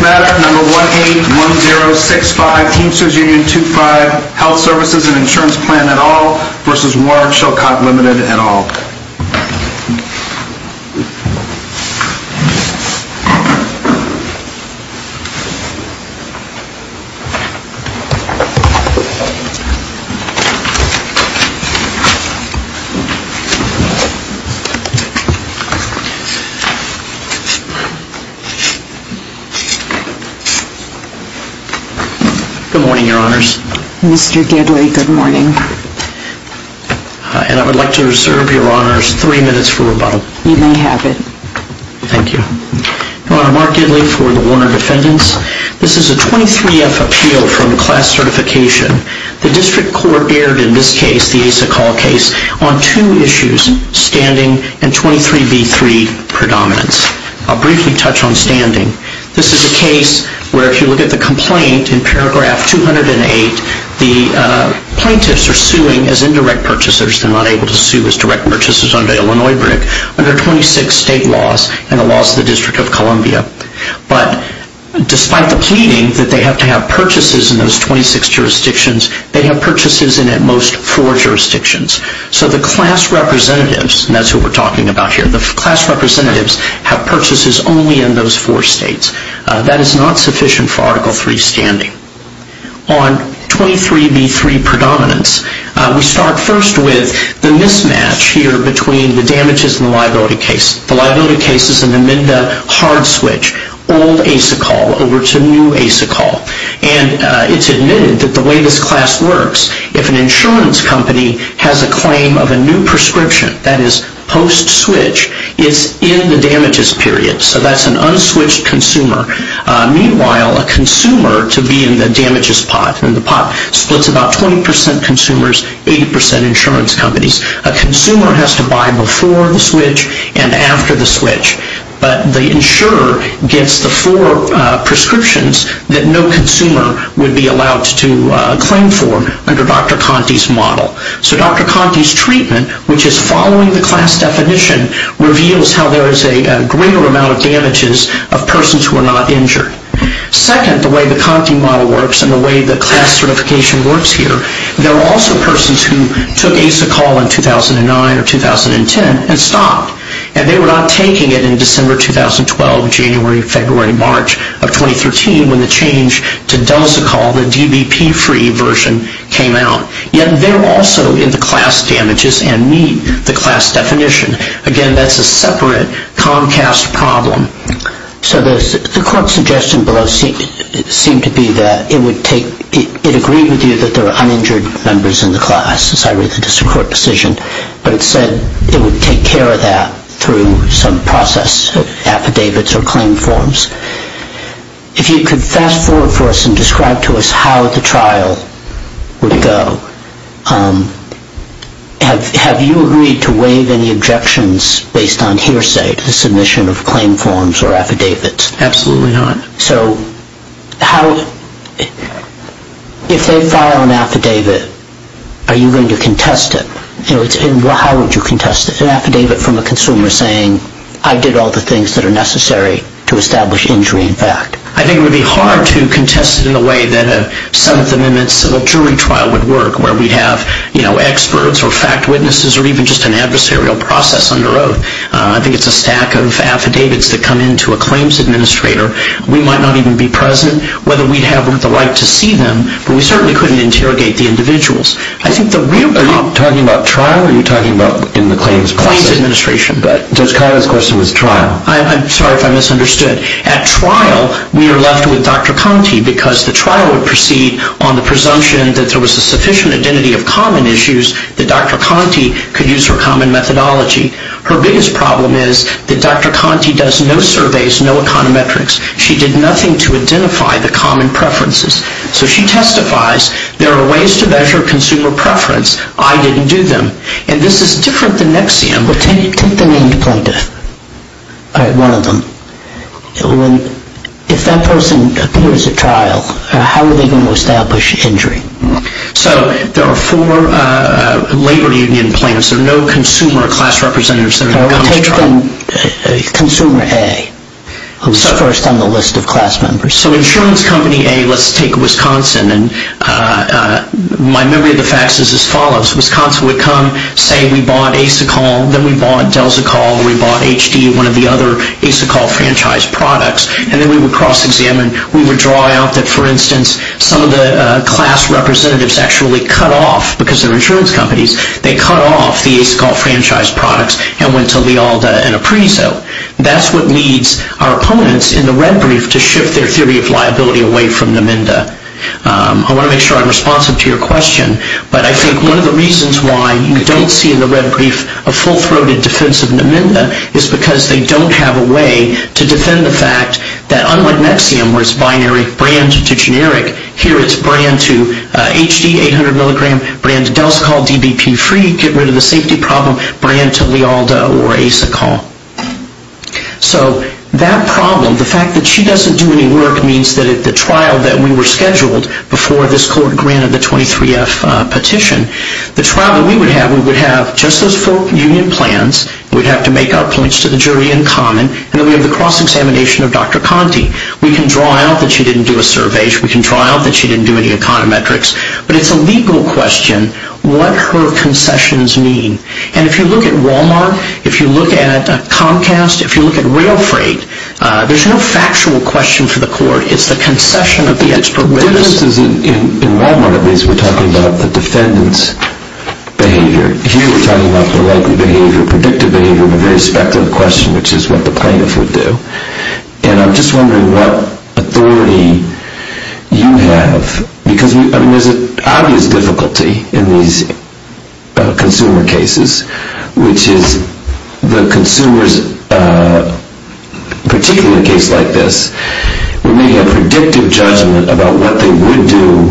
Matter No. 181065 Teamsters Union 25 Health Services and Insurance Plan et al. v. Warner Chilcott Limited et al. Good morning, Your Honors. Mr. Gidley, good morning. I would like to reserve Your Honors three minutes for rebuttal. You may have it. Thank you. Your Honor, Mark Gidley for the Warner defendants. This is a 23-F appeal from class certification. The District Court aired in this case, the Asa Call case, on two issues, standing and 23-B-3 predominance. I'll briefly touch on standing. This is a case where if you look at the complaint in paragraph 208, the plaintiffs are suing as indirect purchasers. They're not able to sue as direct purchasers under Illinois Brick, under 26 state laws and the laws of the District of Columbia. But despite the pleading that they have to have purchases in those 26 jurisdictions, they have purchases in at most four jurisdictions. So the class representatives, and that's what we're talking about here, the class representatives have purchases only in those four states. That is not sufficient for Article III standing. On 23-B-3 predominance, we start first with the mismatch here between the damages and the liability case. The liability case is an amended hard switch, old Asa Call over to new Asa Call. And it's admitted that the way this class works, if an insurance company has a claim of a new prescription, that is post-switch, it's in the damages period. So that's an unswitched consumer. Meanwhile, a consumer, to be in the damages pot, and the pot splits about 20% consumers, 80% insurance companies. A consumer has to buy before the switch and after the switch. But the insurer gets the four prescriptions that no consumer would be allowed to claim for under Dr. Conte's model. So Dr. Conte's treatment, which is following the class definition, reveals how there is a greater amount of damages of persons who are not injured. Second, the way the Conte model works and the way the class certification works here, there are also persons who took Asa Call in 2009 or 2010 and stopped. And they were not taking it in December 2012, January, February, March of 2013 when the change to Delsa Call, the DBP-free version, came out. Yet they're also in the class damages and meet the class definition. Again, that's a separate Comcast problem. So the court's suggestion below seemed to be that it agreed with you that there are uninjured members in the class, as I read the district court decision. But it said it would take care of that through some process, affidavits or claim forms. If you could fast forward for us and describe to us how the trial would go. Have you agreed to waive any objections based on hearsay to the submission of claim forms or affidavits? Absolutely not. So if they file an affidavit, are you going to contest it? How would you contest an affidavit from a consumer saying, I did all the things that are necessary to establish injury in fact? I think it would be hard to contest it in a way that a 7th Amendment civil jury trial would work, where we'd have experts or fact witnesses or even just an adversarial process under oath. I think it's a stack of affidavits that come into a claims administrator. We might not even be present, whether we'd have the right to see them, but we certainly couldn't interrogate the individuals. Are you talking about trial or are you talking about in the claims process? Claims administration. Judge Conrad's question was trial. I'm sorry if I misunderstood. At trial, we are left with Dr. Conte because the trial would proceed on the presumption that there was a sufficient identity of common issues that Dr. Conte could use her common methodology. Her biggest problem is that Dr. Conte does no surveys, no econometrics. She did nothing to identify the common preferences. So she testifies, there are ways to measure consumer preference. I didn't do them. And this is different than NXIVM. Well, take the named plaintiff, one of them. If that person appears at trial, how are they going to establish injury? So there are four labor union plaintiffs. There are no consumer class representatives that are going to come to trial. Well, take consumer A, who's first on the list of class members. So insurance company A, let's take Wisconsin. My memory of the facts is as follows. Wisconsin would come, say we bought Asacol. Then we bought Delzacol. We bought HD, one of the other Asacol franchise products. And then we would cross-examine. We would draw out that, for instance, some of the class representatives actually cut off because they're insurance companies. They cut off the Asacol franchise products and went to Lealda and Apprezo. That's what leads our opponents in the red brief to shift their theory of liability away from Namenda. I want to make sure I'm responsive to your question, but I think one of the reasons why you don't see in the red brief a full-throated defense of Namenda is because they don't have a way to defend the fact that unlike NXIVM, where it's binary brand to generic, here it's brand to HD, 800 milligram, brand to Delzacol, DBP-free, get rid of the safety problem, brand to Lealda or Asacol. So that problem, the fact that she doesn't do any work, means that at the trial that we were scheduled before this court granted the 23F petition, the trial that we would have, we would have just those four union plans. We'd have to make our points to the jury in common. And then we have the cross-examination of Dr. Conte. We can draw out that she didn't do a survey. We can draw out that she didn't do any econometrics. But it's a legal question, what her concessions mean. And if you look at Wal-Mart, if you look at Comcast, if you look at rail freight, there's no factual question for the court. It's the concession of the expert witness. In Wal-Mart, at least, we're talking about the defendant's behavior. Here we're talking about the likely behavior, predictive behavior of a very speculative question, which is what the plaintiff would do. And I'm just wondering what authority you have, because there's an obvious difficulty in these consumer cases, which is the consumers, particularly in a case like this, we may have predictive judgment about what they would do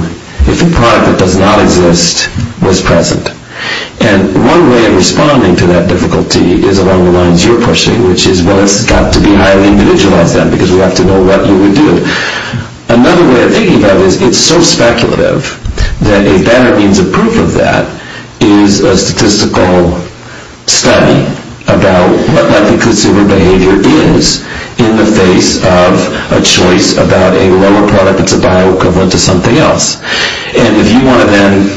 if a product that does not exist was present. And one way of responding to that difficulty is along the lines you're pushing, which is, well, it's got to be highly individualized then, because we have to know what you would do. Another way of thinking about it is it's so speculative that a better means of proof of that is a statistical study about what likely consumer behavior is in the face of a choice about a lower product that's a bio equivalent to something else. And if you want to then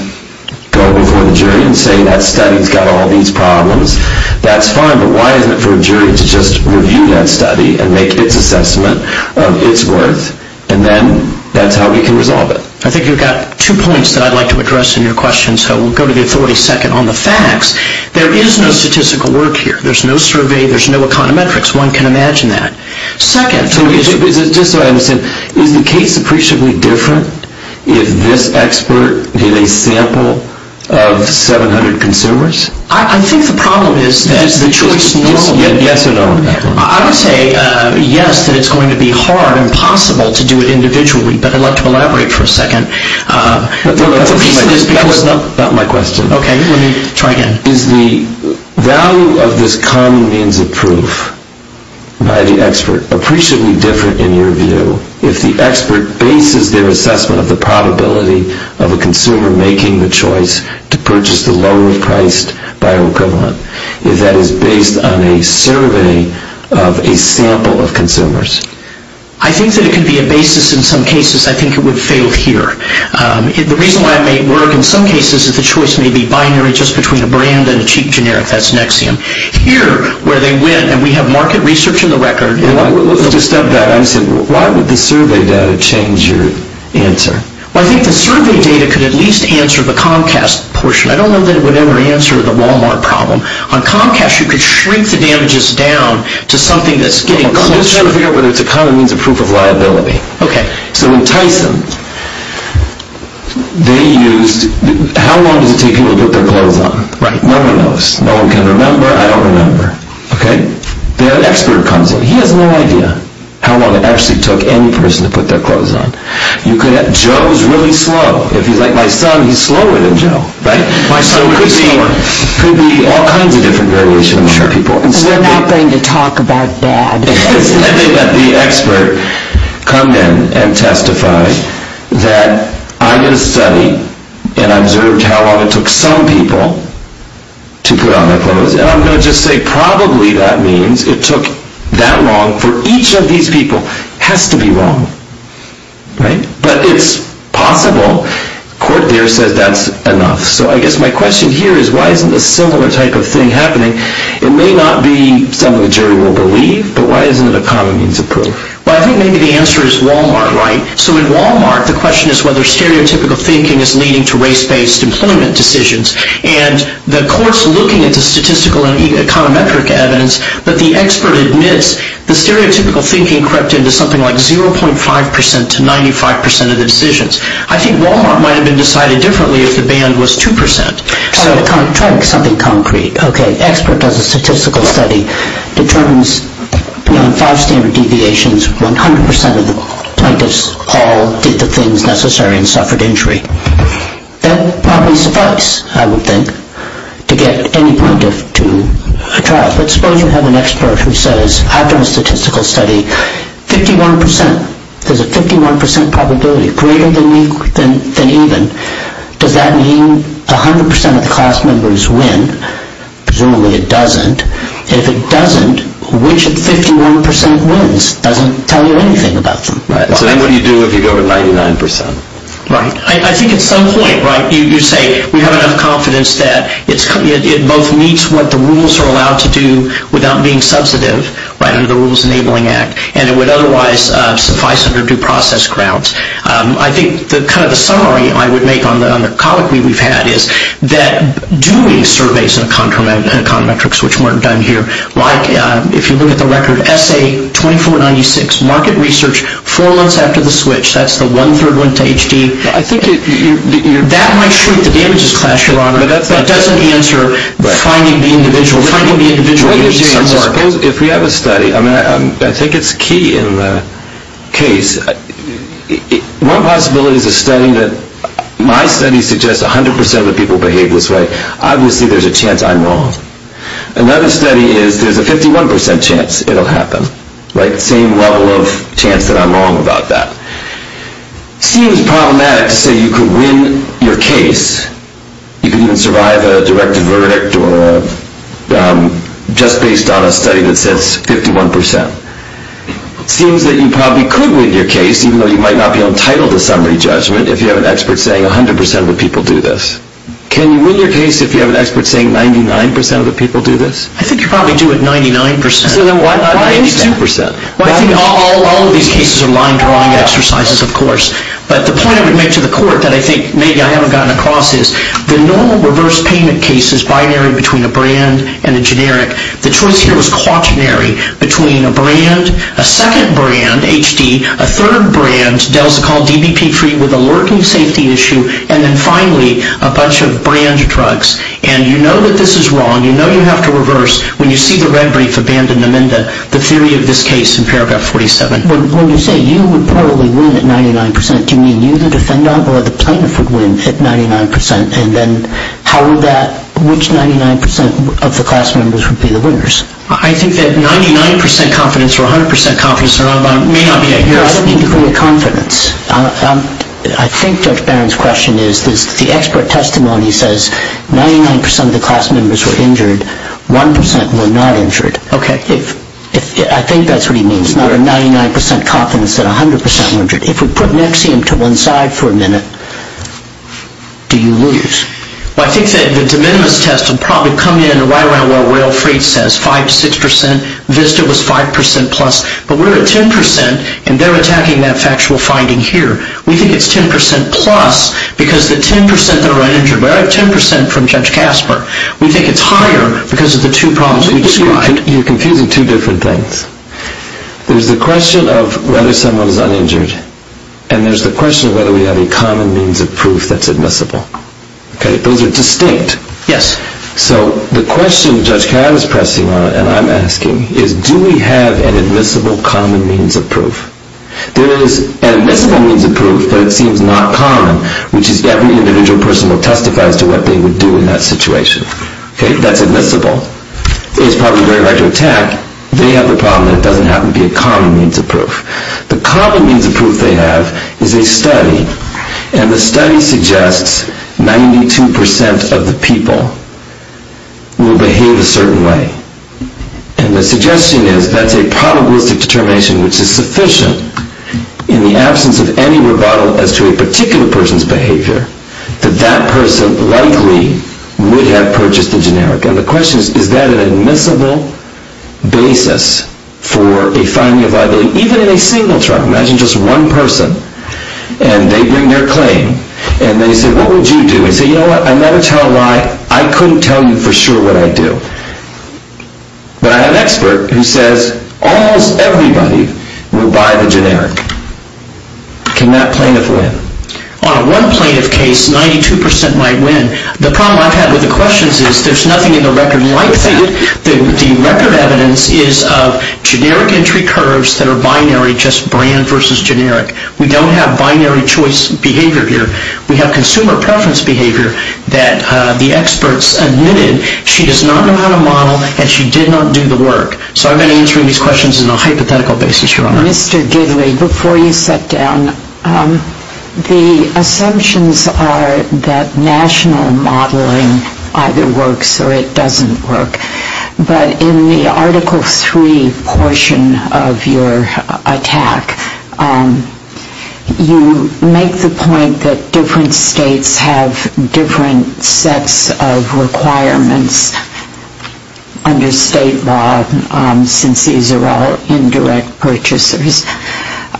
go before the jury and say that study's got all these problems, that's fine. But why isn't it for a jury to just review that study and make its assessment of its worth, and then that's how we can resolve it? I think you've got two points that I'd like to address in your question, so we'll go to the authority second on the facts. There is no statistical work here. There's no survey. There's no econometrics. One can imagine that. Second... Just so I understand, is the case appreciably different if this expert did a sample of 700 consumers? I think the problem is that the choice normally... Yes or no on that one? I would say yes, that it's going to be hard and possible to do it individually, but I'd like to elaborate for a second. That was not my question. Okay, let me try again. Is the value of this common means of proof by the expert appreciably different in your view if the expert bases their assessment of the probability of a consumer making the choice to purchase the lower-priced bioequivalent? If that is based on a survey of a sample of consumers? I think that it can be a basis in some cases. I think it would fail here. The reason why it may work in some cases is the choice may be binary just between a brand and a cheap generic. That's Nexium. Here, where they went, and we have market research in the record... Let's just stop there. I'm saying, why would the survey data change your answer? Well, I think the survey data could at least answer the Comcast portion. I don't know that it would ever answer the Walmart problem. On Comcast, you could shrink the damages down to something that's getting closer... I'm just trying to figure out whether it's a common means of proof of liability. Okay. So in Tyson, they used... How long does it take people to put their clothes on? Right. No one knows. No one can remember. I don't remember. Okay? The expert comes in. He has no idea how long it actually took any person to put their clothes on. Joe's really slow. If he's like my son, he's slower than Joe. Right? My son would be slower. So it could be all kinds of different variations of people. We're not going to talk about that. I think that the expert come in and testify that I did a study, and I observed how long it took some people to put on their clothes, and I'm going to just say probably that means it took that long for each of these people. It has to be wrong. Right? But it's possible. The court there says that's enough. So I guess my question here is why isn't a similar type of thing happening? It may not be something the jury will believe, but why isn't it a common means of proof? Well, I think maybe the answer is Wal-Mart, right? So in Wal-Mart, the question is whether stereotypical thinking is leading to race-based employment decisions, and the court's looking at the statistical and econometric evidence, but the expert admits the stereotypical thinking crept into something like 0.5% to 95% of the decisions. I think Wal-Mart might have been decided differently if the band was 2%. Try something concrete. Okay, expert does a statistical study, determines beyond five standard deviations, 100% of the plaintiffs all did the things necessary and suffered injury. That probably suffice, I would think, to get any plaintiff to trial. But suppose you have an expert who says, after a statistical study, 51%, there's a 51% probability, greater than even, does that mean 100% of the class members win? Presumably it doesn't. If it doesn't, which of the 51% wins doesn't tell you anything about them. Right. So then what do you do if you go to 99%? Right. I think at some point, right, you say, we have enough confidence that it both meets what the rules are allowed to do without being substantive, right, under the Rules Enabling Act, and it would otherwise suffice under due process grounds. I think kind of the summary I would make on the colloquy we've had is that doing surveys in econometrics, which weren't done here, like if you look at the record, SA2496, market research, four months after the switch, that's the one-third went to HD. That might shoot the damages class, Your Honor, but that doesn't answer finding the individual. If we have a study, I think it's key in the case. One possibility is a study that my study suggests 100% of the people behave this way. Obviously there's a chance I'm wrong. Another study is there's a 51% chance it'll happen, right, same level of chance that I'm wrong about that. It seems problematic to say you could win your case. You could even survive a directed verdict or just based on a study that says 51%. It seems that you probably could win your case, even though you might not be entitled to summary judgment, if you have an expert saying 100% of the people do this. Can you win your case if you have an expert saying 99% of the people do this? I think you probably do it 99%. So then why not 92%? Well, I think all of these cases are line-drawing exercises, of course. But the point I would make to the court that I think maybe I haven't gotten across is the normal reverse payment case is binary between a brand and a generic. The choice here was quaternary between a brand, a second brand, HD, a third brand, Delzacol, DBP-free, with a lurking safety issue, and then finally a bunch of brand drugs. And you know that this is wrong. You know you have to reverse when you see the red brief abandoned amendment, the theory of this case in paragraph 47. When you say you would probably win at 99%, do you mean you, the defendant, or the plaintiff would win at 99%? And then how would that ñ which 99% of the class members would be the winners? I think that 99% confidence or 100% confidence may not be a good thing. I don't mean the degree of confidence. I think Judge Barron's question is that the expert testimony says 99% of the class members were injured, 1% were not injured. I think that's what he means, not a 99% confidence that 100% were injured. If we put Nexium to one side for a minute, do you lose? Well, I think that the de minimis test would probably come in right around where Will Freed says, 5%, 6%. Vista was 5% plus. But we're at 10% and they're attacking that factual finding here. We think it's 10% plus because the 10% that are uninjured, we're at 10% from Judge Casper. We think it's higher because of the two problems that you described. You're confusing two different things. There's the question of whether someone is uninjured and there's the question of whether we have a common means of proof that's admissible. Okay? Those are distinct. Yes. So the question Judge Cavan is pressing on, and I'm asking, is do we have an admissible common means of proof? There is an admissible means of proof, but it seems not common, which is every individual person will testify as to what they would do in that situation. Okay? That's admissible. It is probably very hard to attack. They have the problem that it doesn't happen to be a common means of proof. The common means of proof they have is a study, and the study suggests 92% of the people will behave a certain way. And the suggestion is that's a probabilistic determination, which is sufficient in the absence of any rebuttal as to a particular person's behavior, that that person likely would have purchased the generic. And the question is, is that an admissible basis for a finding of liability? Even in a single trial. Imagine just one person, and they bring their claim, and they say, what would you do? They say, you know what, I never tell a lie. I couldn't tell you for sure what I'd do. But I have an expert who says almost everybody will buy the generic. Can that plaintiff win? On one plaintiff case, 92% might win. The problem I've had with the questions is there's nothing in the record like that. The record evidence is of generic entry curves that are binary, just brand versus generic. We don't have binary choice behavior here. We have consumer preference behavior that the experts admitted she does not know how to model and she did not do the work. So I've been answering these questions on a hypothetical basis, Your Honor. Mr. Gidley, before you sit down, the assumptions are that national modeling either works or it doesn't work. But in the Article III portion of your attack, you make the point that different states have different sets of requirements under state law since these are all indirect purchasers.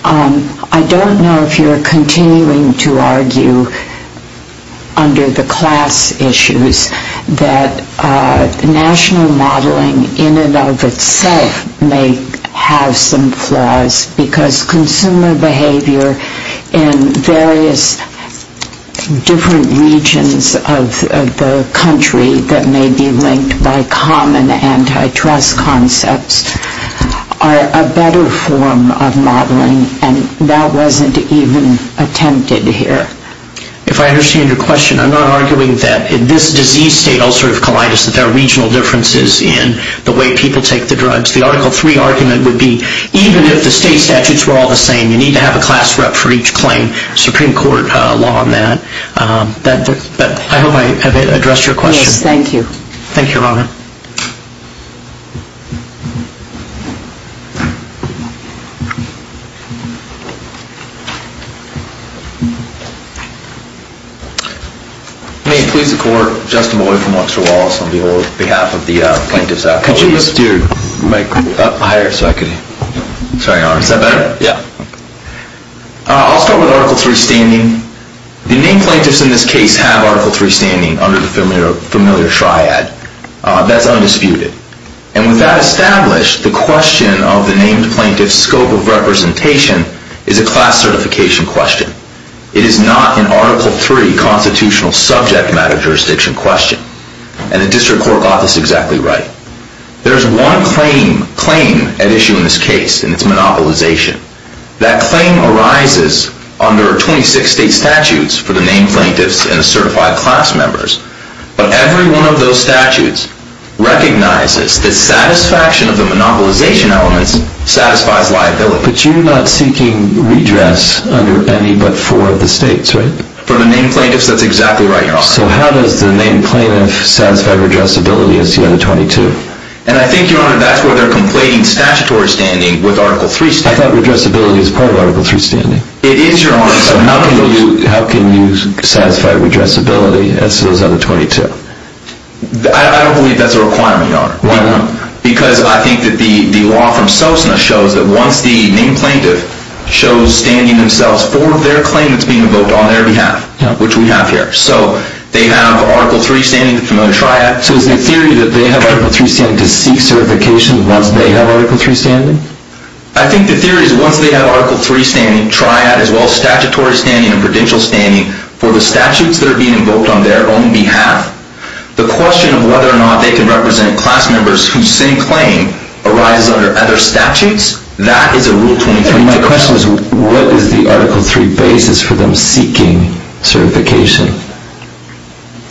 I don't know if you're continuing to argue under the class issues that national modeling in and of itself may have some flaws because consumer behavior in various different regions of the country that may be linked by common antitrust concepts are a better form of modeling and that wasn't even attempted here. If I understand your question, I'm not arguing that in this disease state ulcerative colitis that there are regional differences in the way people take the drugs. The Article III argument would be even if the state statutes were all the same, you need to have a class rep for each claim, Supreme Court law on that. But I hope I have addressed your question. Yes, thank you. Thank you, Your Honor. May it please the Court, Justin Malloy from Luxor Laws on behalf of the plaintiff's colleagues. Could you lift your mic up higher so I can hear you? Sorry, Your Honor. Is that better? Yeah. I'll start with Article III standing. The named plaintiffs in this case have Article III standing under the familiar triad. That's undisputed. And with that established, the question of the named plaintiff's scope of representation is a class certification question. It is not an Article III constitutional subject matter jurisdiction question. And the District Court got this exactly right. There's one claim at issue in this case, and it's monopolization. That claim arises under 26 state statutes for the named plaintiffs and the certified class members. But every one of those statutes recognizes that satisfaction of the monopolization elements satisfies liability. But you're not seeking redress under any but four of the states, right? For the named plaintiffs, that's exactly right, Your Honor. So how does the named plaintiff satisfy redressability as you have the 22? And I think, Your Honor, that's where they're complaining statutory standing with Article III standing. I thought redressability is part of Article III standing. It is, Your Honor. So how can you satisfy redressability as to those other 22? I don't believe that's a requirement, Your Honor. Why not? Because I think that the law from SOSNA shows that once the named plaintiff shows standing themselves for their claim that's being invoked on their behalf, which we have here. So they have Article III standing under the familiar triad. So is the theory that they have Article III standing to seek certification once they have Article III standing? I think the theory is once they have Article III standing triad as well as statutory standing and prudential standing for the statutes that are being invoked on their own behalf, the question of whether or not they can represent class members whose same claim arises under other statutes, that is a Rule 23. And my question is what is the Article III basis for them seeking certification?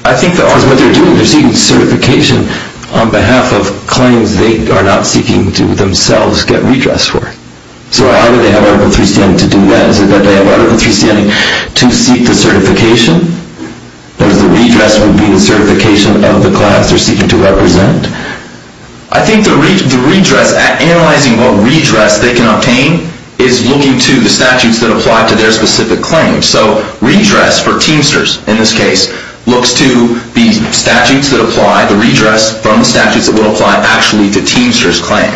I think that what they're doing, they're seeking certification on behalf of claims they are not seeking to themselves get redress for. So how do they have Article III standing to do that? Is it that they have Article III standing to seek the certification, whereas the redress would be the certification of the class they're seeking to represent? I think the redress, analyzing what redress they can obtain, is looking to the statutes that apply to their specific claim. So redress for Teamsters, in this case, looks to the statutes that apply, the redress from the statutes that will apply actually to Teamsters' claim.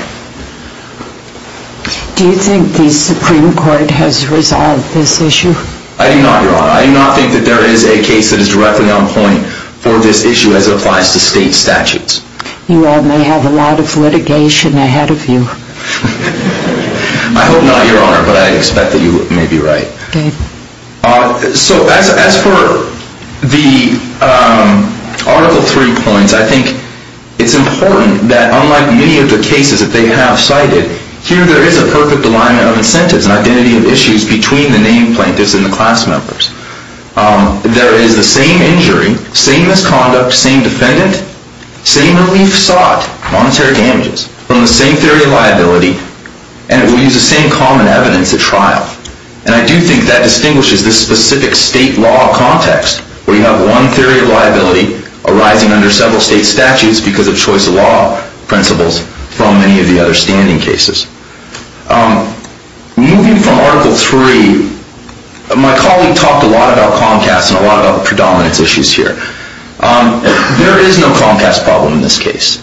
Do you think the Supreme Court has resolved this issue? I do not, Your Honor. I do not think that there is a case that is directly on point for this issue as it applies to state statutes. You all may have a lot of litigation ahead of you. I hope not, Your Honor, but I expect that you may be right. So as for the Article III points, I think it's important that unlike many of the cases that they have cited, here there is a perfect alignment of incentives and identity of issues between the named plaintiffs and the class members. There is the same injury, same misconduct, same defendant, same relief sought, monetary damages, from the same theory of liability, and it will use the same common evidence at trial. And I do think that distinguishes this specific state law context where you have one theory of liability arising under several state statutes because of choice of law principles from many of the other standing cases. Moving from Article III, my colleague talked a lot about Comcast and a lot about the predominance issues here. There is no Comcast problem in this case.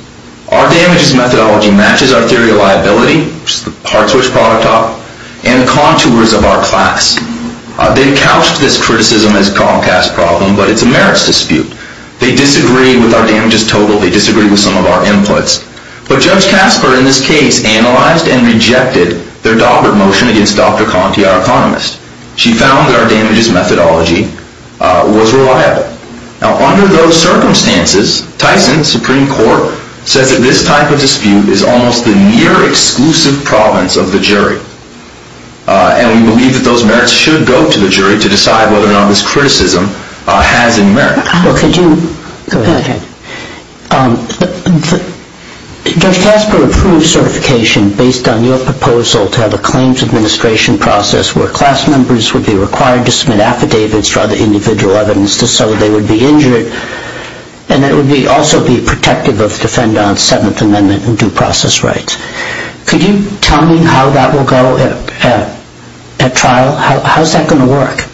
Our damages methodology matches our theory of liability, which is the parts which product up, and contours of our class. They have couched this criticism as a Comcast problem, but it's a merits dispute. They disagree with our damages total. They disagree with some of our inputs. But Judge Casper in this case analyzed and rejected their Daubert motion against Dr. Conti, our economist. She found that our damages methodology was reliable. Now under those circumstances, Tyson, Supreme Court, says that this type of dispute is almost the near-exclusive province of the jury. And we believe that those merits should go to the jury to decide whether or not this criticism has any merit. Well, could you go ahead, Judge. Judge Casper approved certification based on your proposal to have a claims administration process where class members would be required to submit affidavits rather than individual evidence just so that they would be injured, and it would also be protective of defendant's Seventh Amendment and due process rights. Could you tell me how that will go at trial? How is that going to work?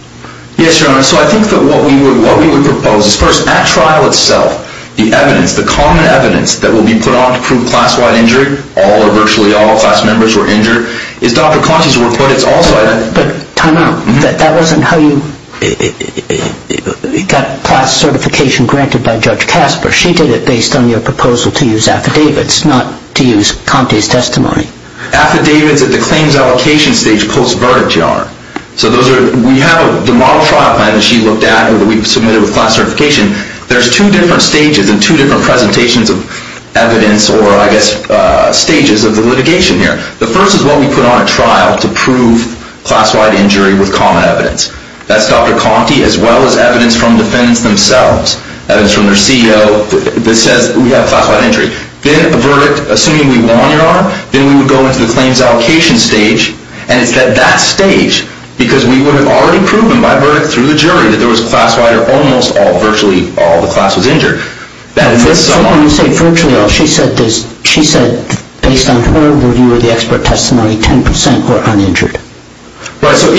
Yes, Your Honor. So I think that what we would propose is first, at trial itself, the evidence, the common evidence that will be put on to prove class-wide injury, all or virtually all class members were injured, is Dr. Conti's work. But time out. That wasn't how you got class certification granted by Judge Casper. She did it based on your proposal to use affidavits, not to use Conti's testimony. Affidavits at the claims allocation stage post-verdict, Your Honor. So we have the model trial plan that she looked at and that we submitted with class certification. There's two different stages and two different presentations of evidence or I guess stages of the litigation here. The first is what we put on at trial to prove class-wide injury with common evidence. That's Dr. Conti as well as evidence from defendants themselves, evidence from their CEO that says we have class-wide injury. Then a verdict, assuming we won, Your Honor, then we would go into the claims allocation stage, and it's at that stage, because we would have already proven by verdict through the jury that there was class-wide or almost all, virtually all, the class was injured. Someone said virtually all. She said based on her review of the expert testimony, 10% were uninjured. Right. So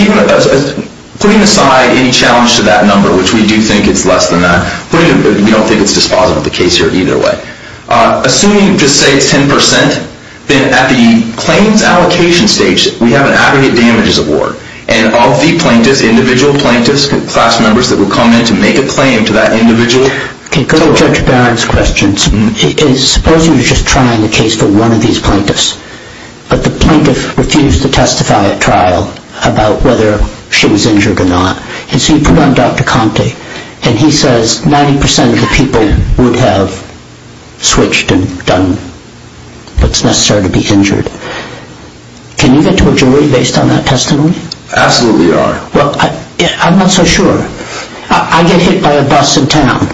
putting aside any challenge to that number, which we do think it's less than that, we don't think it's dispositive of the case here either way. Assuming you just say it's 10%, then at the claims allocation stage, we have an aggregate damages award, and all the plaintiffs, individual plaintiffs, class members that would come in to make a claim to that individual can go to Judge Barron's questions. Suppose you were just trying a case for one of these plaintiffs, but the plaintiff refused to testify at trial about whether she was injured or not. So you put on Dr. Conti, and he says 90% of the people would have switched and done what's necessary to be injured. Can you get to a jury based on that testimony? Absolutely, Your Honor. Well, I'm not so sure. I get hit by a bus in town,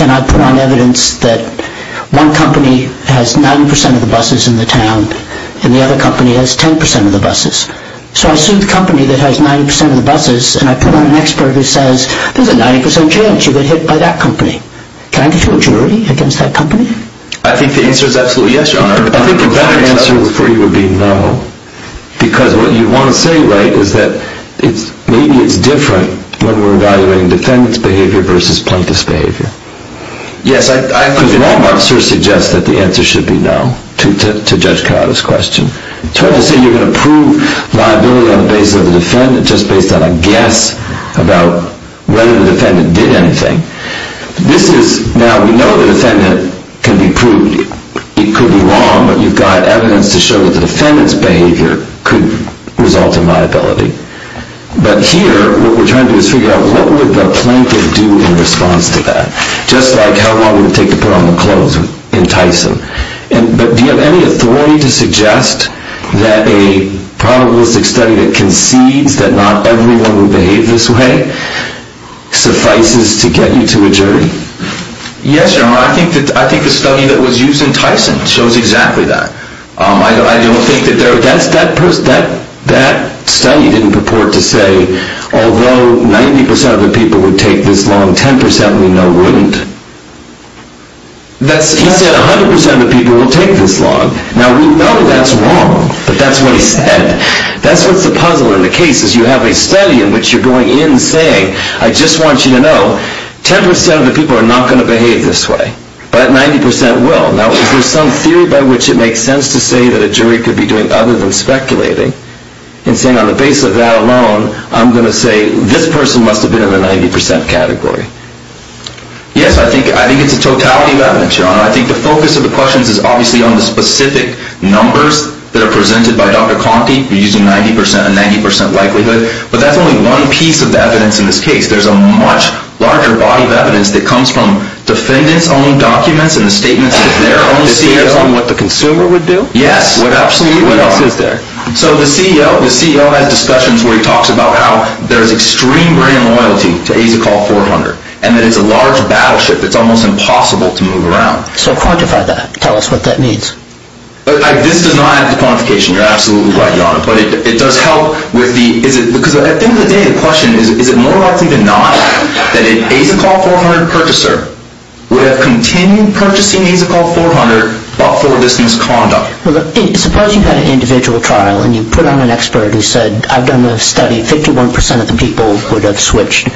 and I put on evidence that one company has 90% of the buses in the town, and the other company has 10% of the buses. So I sue the company that has 90% of the buses, and I put on an expert who says, there's a 90% chance you'll get hit by that company. Can I get to a jury against that company? I think the answer is absolutely yes, Your Honor. I think the better answer for you would be no, because what you want to say, right, is that maybe it's different when we're evaluating defendant's behavior versus plaintiff's behavior. Yes, I agree with that. Because Wal-Mart sort of suggests that the answer should be no to Judge Coyote's question. So you're going to prove liability on the basis of the defendant just based on a guess about whether the defendant did anything. Now, we know the defendant can be proved. It could be wrong, but you've got evidence to show that the defendant's behavior could result in liability. But here, what we're trying to do is figure out what would the plaintiff do in response to that, just like how long would it take to put on the clothes in Tyson. But do you have any authority to suggest that a probabilistic study that concedes that not everyone would behave this way suffices to get you to a jury? Yes, Your Honor. I think the study that was used in Tyson shows exactly that. I don't think that there... That study didn't purport to say, although 90% of the people would take this long, 10% we know wouldn't. That's... He said 100% of the people will take this long. Now, we know that's wrong, but that's what he said. That's what's the puzzle in the case is you have a study in which you're going in saying, I just want you to know 10% of the people are not going to behave this way, but 90% will. Now, if there's some theory by which it makes sense to say that a jury could be doing other than speculating and saying on the basis of that alone, I'm going to say this person must have been in the 90% category. Yes, I think it's a totality of evidence, Your Honor. I think the focus of the questions is obviously on the specific numbers that are presented by Dr. Conte. You're using 90% and 90% likelihood, but that's only one piece of the evidence in this case. There's a much larger body of evidence that comes from defendants' own documents and the statements of their own CEO. It's based on what the consumer would do? Yes, absolutely. What else is there? So the CEO has discussions where he talks about how there's extreme brand loyalty to AZACOL 400, and that it's a large battleship that's almost impossible to move around. So quantify that. Tell us what that means. This does not add to quantification. You're absolutely right, Your Honor. But it does help because at the end of the day, the question is, is it more likely than not that an AZACOL 400 purchaser would have continued purchasing AZACOL 400 but for this misconduct? Suppose you had an individual trial and you put on an expert who said, I've done the study, 51% of the people would have switched,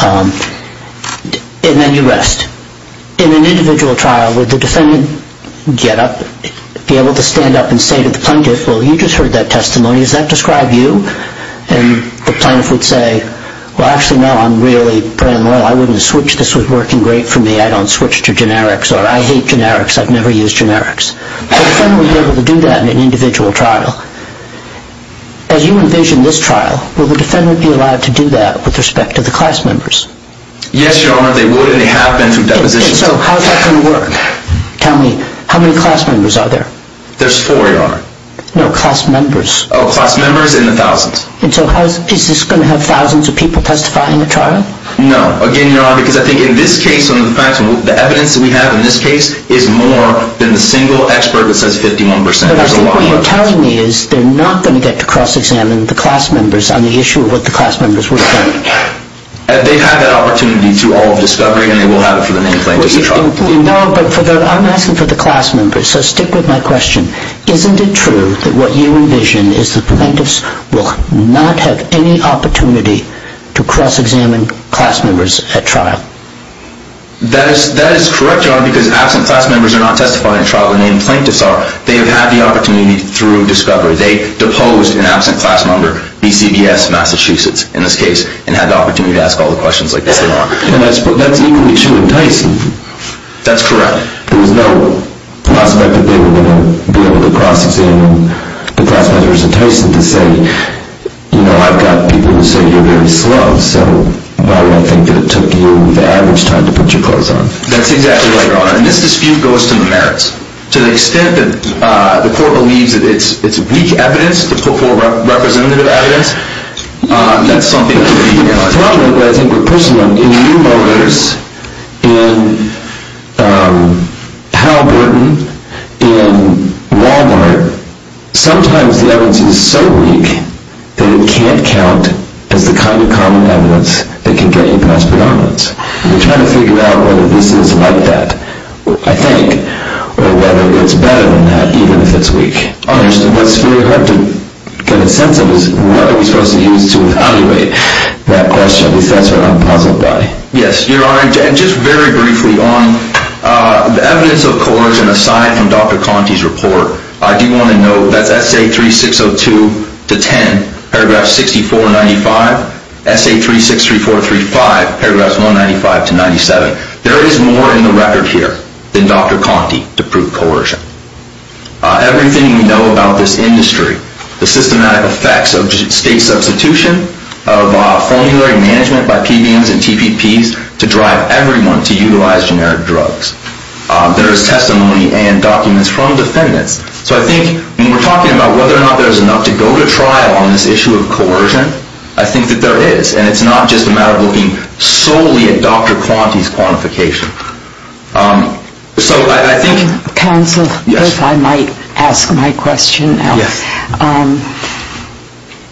and then you rest. In an individual trial, would the defendant get up, be able to stand up and say to the plaintiff, well, you just heard that testimony. Does that describe you? And the plaintiff would say, well, actually, no, I'm really brand loyal. I wouldn't have switched. This was working great for me. I don't switch to generics, or I hate generics. I've never used generics. The defendant would be able to do that in an individual trial. As you envision this trial, will the defendant be allowed to do that with respect to the class members? Yes, Your Honor, they would, and they have been through depositions. And so how is that going to work? Tell me, how many class members are there? There's four, Your Honor. No, class members. Oh, class members in the thousands. And so is this going to have thousands of people testifying in the trial? No. Again, Your Honor, because I think in this case, the evidence that we have in this case is more than the single expert that says 51%. But I think what you're telling me is they're not going to get to cross-examine the class members on the issue of what the class members were saying. They have that opportunity through all of discovery, and they will have it for the main plaintiff's trial. No, but I'm asking for the class members, so stick with my question. Isn't it true that what you envision is the plaintiffs will not have any opportunity to cross-examine class members at trial? That is correct, Your Honor, because absent class members are not testifying at trial. The main plaintiffs are. They have had the opportunity through discovery. They deposed an absent class member, BCVS Massachusetts in this case, and had the opportunity to ask all the questions like this they want. And that's equally true in Tyson. That's correct. There was no prospect that they were going to be able to cross-examine the class members in Tyson to say, you know, I've got people who say you're very slow, so why would I think that it took you the average time to put your clothes on? That's exactly right, Your Honor, and this dispute goes to the merits. To the extent that the court believes that it's weak evidence, the poor representative evidence, that's something that could be a problem, but I think we're pushing on it. In New Motors, in Hal Burton, in Walmart, sometimes the evidence is so weak that it can't count as the kind of common evidence that can gain cross-predominance. We're trying to figure out whether this is like that, I think, or whether it's better than that, even if it's weak. Understood. What's very hard to get a sense of is what are we supposed to use to evaluate that question, because that's what I'm puzzled by. Yes, Your Honor, and just very briefly, on the evidence of coercion aside from Dr. Conte's report, I do want to note that's Essay 3602 to 10, paragraphs 64 and 95, Essay 363435, paragraphs 195 to 97. There is more in the record here than Dr. Conte to prove coercion. Everything we know about this industry, the systematic effects of state substitution, of formulary management by PBMs and TPPs to drive everyone to utilize generic drugs. There is testimony and documents from defendants. So I think when we're talking about whether or not there's enough to go to trial on this issue of coercion, I think that there is, and it's not just a matter of looking solely at Dr. Conte's quantification. So I think... Counsel, if I might ask my question now. Yes.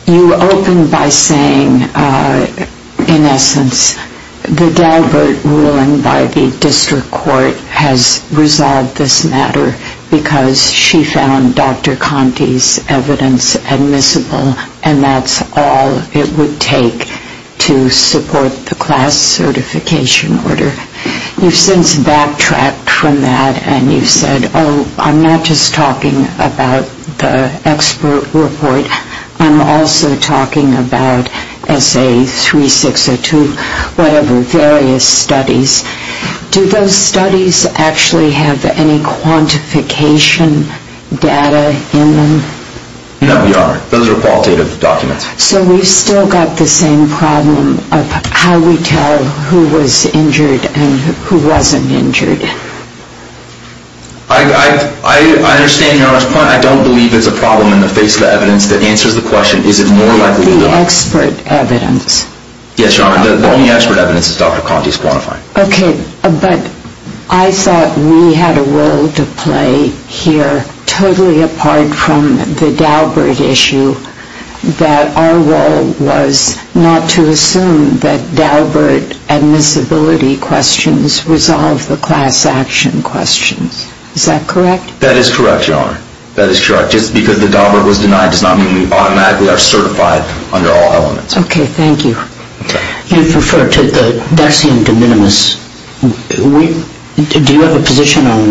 You opened by saying, in essence, the Galbert ruling by the district court has resolved this matter because she found Dr. Conte's evidence admissible, and that's all it would take to support the class certification order. You've since backtracked from that, and you've said, oh, I'm not just talking about the expert report. I'm also talking about Essay 3602, whatever, various studies. Do those studies actually have any quantification data in them? No, we aren't. Those are qualitative documents. So we've still got the same problem of how we tell who was injured and who wasn't injured. I understand, Your Honor. I don't believe there's a problem in the face of the evidence that answers the question, is it more likely... The expert evidence. Yes, Your Honor. The only expert evidence is Dr. Conte's quantifying. Okay. But I thought we had a role to play here, totally apart from the Galbert issue, that our role was not to assume that Galbert admissibility questions resolve the class action questions. Is that correct? That is correct, Your Honor. That is correct. Just because the Galbert was denied does not mean we automatically are certified under all elements. Okay. Thank you. You referred to the dexium de minimis. Do you have a position on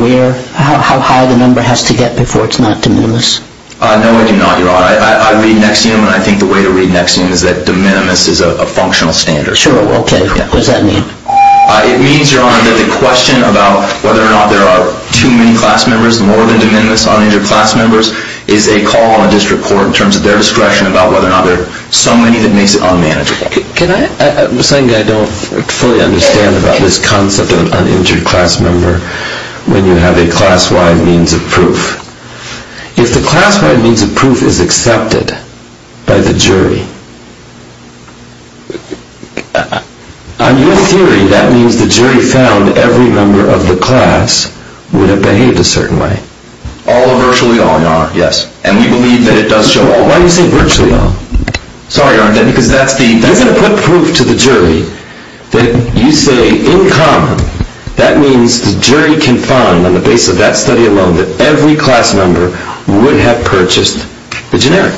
how high the number has to get before it's not de minimis? No, I do not, Your Honor. I read dexium, and I think the way to read de minimis is that de minimis is a functional standard. Sure. Okay. What does that mean? It means, Your Honor, that the question about whether or not there are too many class members, more than de minimis uninjured class members, is a call on a district court in terms of their discretion about whether or not there are so many that makes it unmanageable. The second thing I don't fully understand about this concept of an uninjured class member, when you have a class-wide means of proof, if the class-wide means of proof is accepted by the jury, on your theory, that means the jury found every member of the class would have behaved a certain way. All or virtually all, Your Honor. Yes. And we believe that it does show all. Why do you say virtually all? Sorry, Your Honor, because that's the... You're going to put proof to the jury that you say, in common, that means the jury can find, on the basis of that study alone, that every class member would have purchased the generic.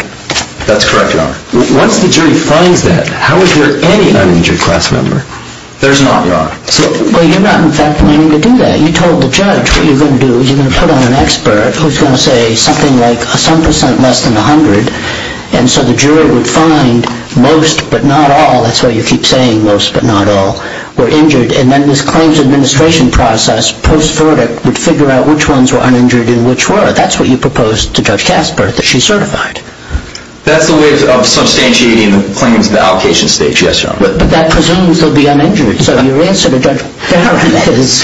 That's correct, Your Honor. Once the jury finds that, how is there any uninjured class member? There's not, Your Honor. Well, you're not, in fact, planning to do that. You told the judge what you're going to do is you're going to put on an expert who's going to say something like some percent less than 100, and so the jury would find most but not all, that's why you keep saying most but not all, were injured, and then this claims administration process, post-verdict, would figure out which ones were uninjured and which were. That's what you proposed to Judge Kasper that she certified. That's the way of substantiating the claims in the allocation stage, yes, Your Honor. But that presumes they'll be uninjured. So your answer to Judge Farron is,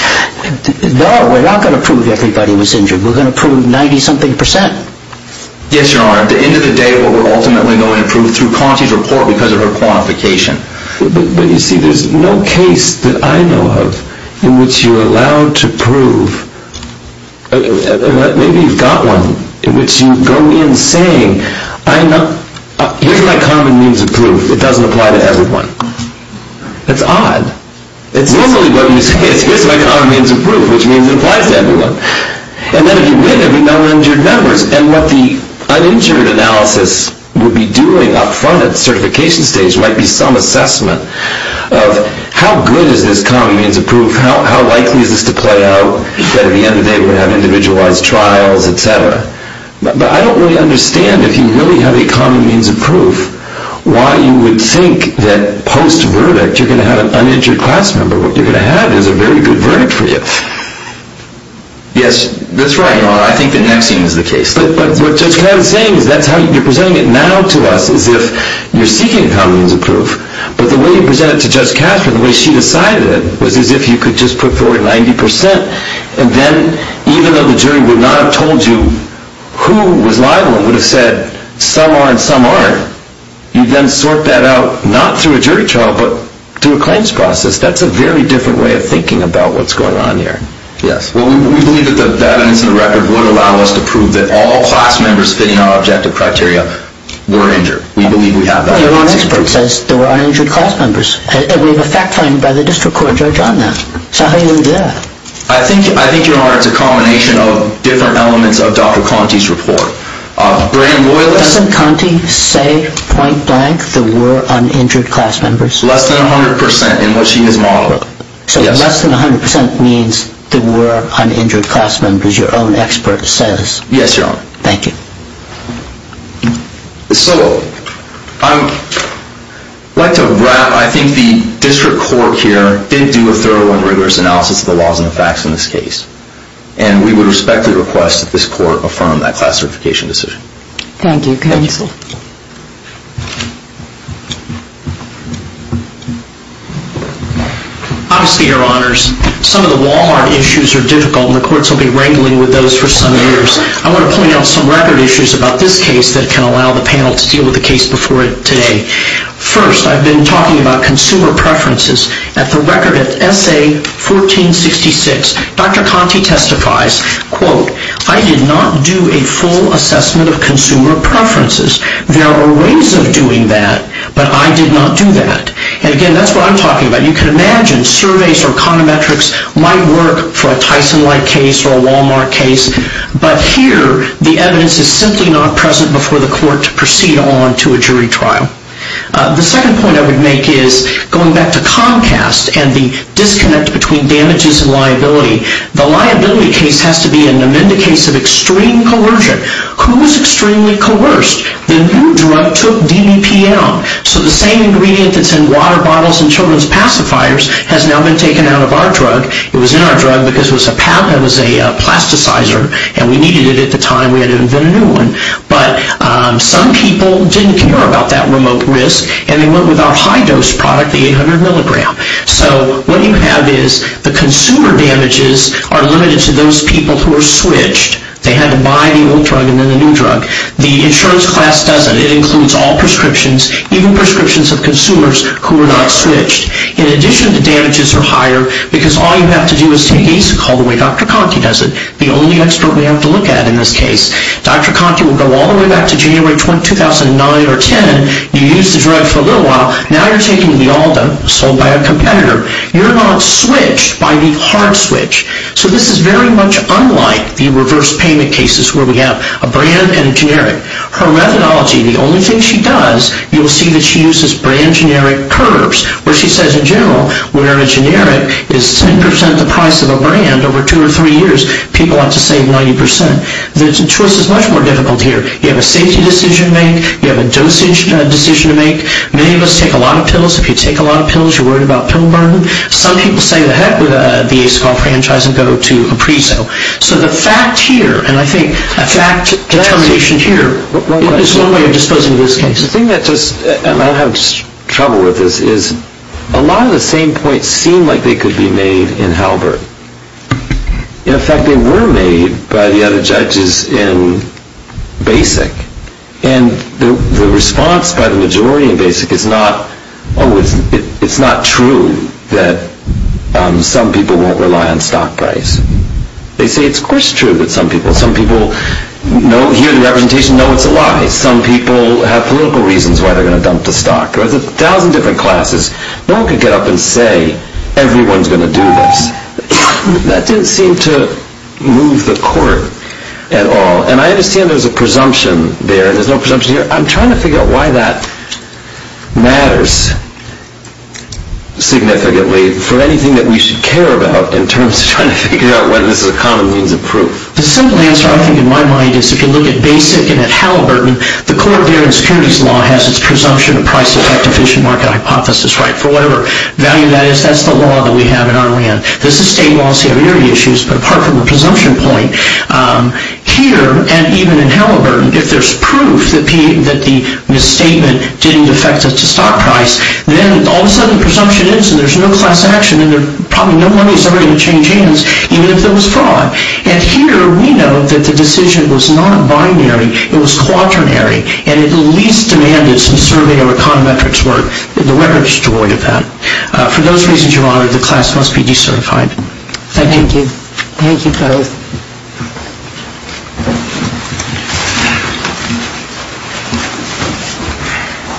no, we're not going to prove everybody was injured. We're going to prove 90-something percent. Yes, Your Honor. At the end of the day, what we're ultimately going to prove through Conti's report because of her qualification. But, you see, there's no case that I know of in which you're allowed to prove, maybe you've got one, in which you go in saying, here's my common means of proof. It doesn't apply to everyone. It's odd. It's normally what you say. Here's my common means of proof, which means it applies to everyone. And then if you win, every number injured numbers. And what the uninjured analysis would be doing up front at the certification stage might be some assessment of how good is this common means of proof, how likely is this to play out, that at the end of the day we have individualized trials, et cetera. But I don't really understand, if you really have a common means of proof, why you would think that post-verdict you're going to have an uninjured class member. What you're going to have is a very good verdict for you. Yes, that's right, Your Honor. I think the next scene is the case. But what Judge Kavanaugh is saying is that you're presenting it now to us as if you're seeking common means of proof. But the way you presented it to Judge Katherine, the way she decided it, was as if you could just put forward 90 percent. And then even though the jury would not have told you who was liable and would have said some are and some aren't, you then sort that out not through a jury trial but through a claims process. That's a very different way of thinking about what's going on here. Yes. Well, we believe that that incident record would allow us to prove that all class members fitting our objective criteria were injured. We believe we have that. Your Honor's verdict says there were uninjured class members. And we have a fact-finding by the district court judge on that. So how do you know that? I think, Your Honor, it's a combination of different elements of Dr. Conte's report. Doesn't Conte say point blank there were uninjured class members? Less than 100 percent in what she has modeled. So less than 100 percent means there were uninjured class members, your own expert says? Yes, Your Honor. Thank you. So I'd like to wrap. I think the district court here did do a thorough and rigorous analysis of the laws and the facts in this case. And we would respectfully request that this court affirm that class certification decision. Thank you, counsel. Obviously, Your Honors, some of the Walhart issues are difficult, and the courts will be wrangling with those for some years. I want to point out some record issues about this case that can allow the panel to deal with the case before today. First, I've been talking about consumer preferences. At the record at S.A. 1466, Dr. Conte testifies, quote, I did not do a full assessment of consumer preferences. There were ways of doing that, but I did not do that. And, again, that's what I'm talking about. You can imagine surveys or econometrics might work for a Tyson-like case or a Walmart case. But here, the evidence is simply not present before the court to proceed on to a jury trial. The second point I would make is going back to Comcast and the disconnect between damages and liability. The liability case has to be an amended case of extreme coercion. Who was extremely coerced? The new drug took DBPL. So the same ingredient that's in water bottles and children's pacifiers has now been taken out of our drug. It was in our drug because it was a plasticizer, and we needed it at the time. We had to invent a new one. But some people didn't care about that remote risk, and they went with our high-dose product, the 800 milligram. So what you have is the consumer damages are limited to those people who are switched. They had to buy the old drug and then the new drug. The insurance class doesn't. It includes all prescriptions, even prescriptions of consumers who are not switched. In addition, the damages are higher because all you have to do is take ASIC, all the way Dr. Conkey does it, the only expert we have to look at in this case. Dr. Conkey will go all the way back to January 2009 or 2010. You used the drug for a little while. Now you're taking Lialda, sold by a competitor. You're not switched by the hard switch. So this is very much unlike the reverse payment cases where we have a brand and a generic. Her methodology, the only thing she does, you will see that she uses brand generic curves where she says in general when a generic is 10 percent the price of a brand over two or three years, people want to save 90 percent. The choice is much more difficult here. You have a safety decision to make. You have a dosage decision to make. Many of us take a lot of pills. If you take a lot of pills, you're worried about pill burden. Some people say to heck with the ASIC all-franchise and go to a pre-sale. So the fact here, and I think a fact determination here is one way of disposing of this case. The thing that just, and I have trouble with this, is a lot of the same points seem like they could be made in Halbert. In fact, they were made by the other judges in BASIC. And the response by the majority in BASIC is not, oh, it's not true that some people won't rely on stock price. They say it's of course true that some people, some people hear the representation, know it's a lie. Some people have political reasons why they're going to dump the stock. There's a thousand different classes. No one could get up and say everyone's going to do this. That didn't seem to move the court at all. And I understand there's a presumption there, and there's no presumption here. I'm trying to figure out why that matters significantly for anything that we should care about in terms of trying to figure out whether this is a common means of proof. The simple answer I think in my mind is if you look at BASIC and at Halliburton, the court there in securities law has its presumption of price effect efficient market hypothesis right for whatever value that is. That's the law that we have in our land. This is state law, so you have your issues. But apart from the presumption point, here and even in Halliburton, if there's proof that the misstatement didn't affect the stock price, then all of a sudden presumption ends and there's no class action and probably no one is ever going to change hands, even if there was fraud. And here we know that the decision was not binary. It was quaternary, and it at least demanded some surveyor econometrics work. The record is devoid of that. For those reasons, Your Honor, the class must be decertified. Thank you. Thank you. Thank you both.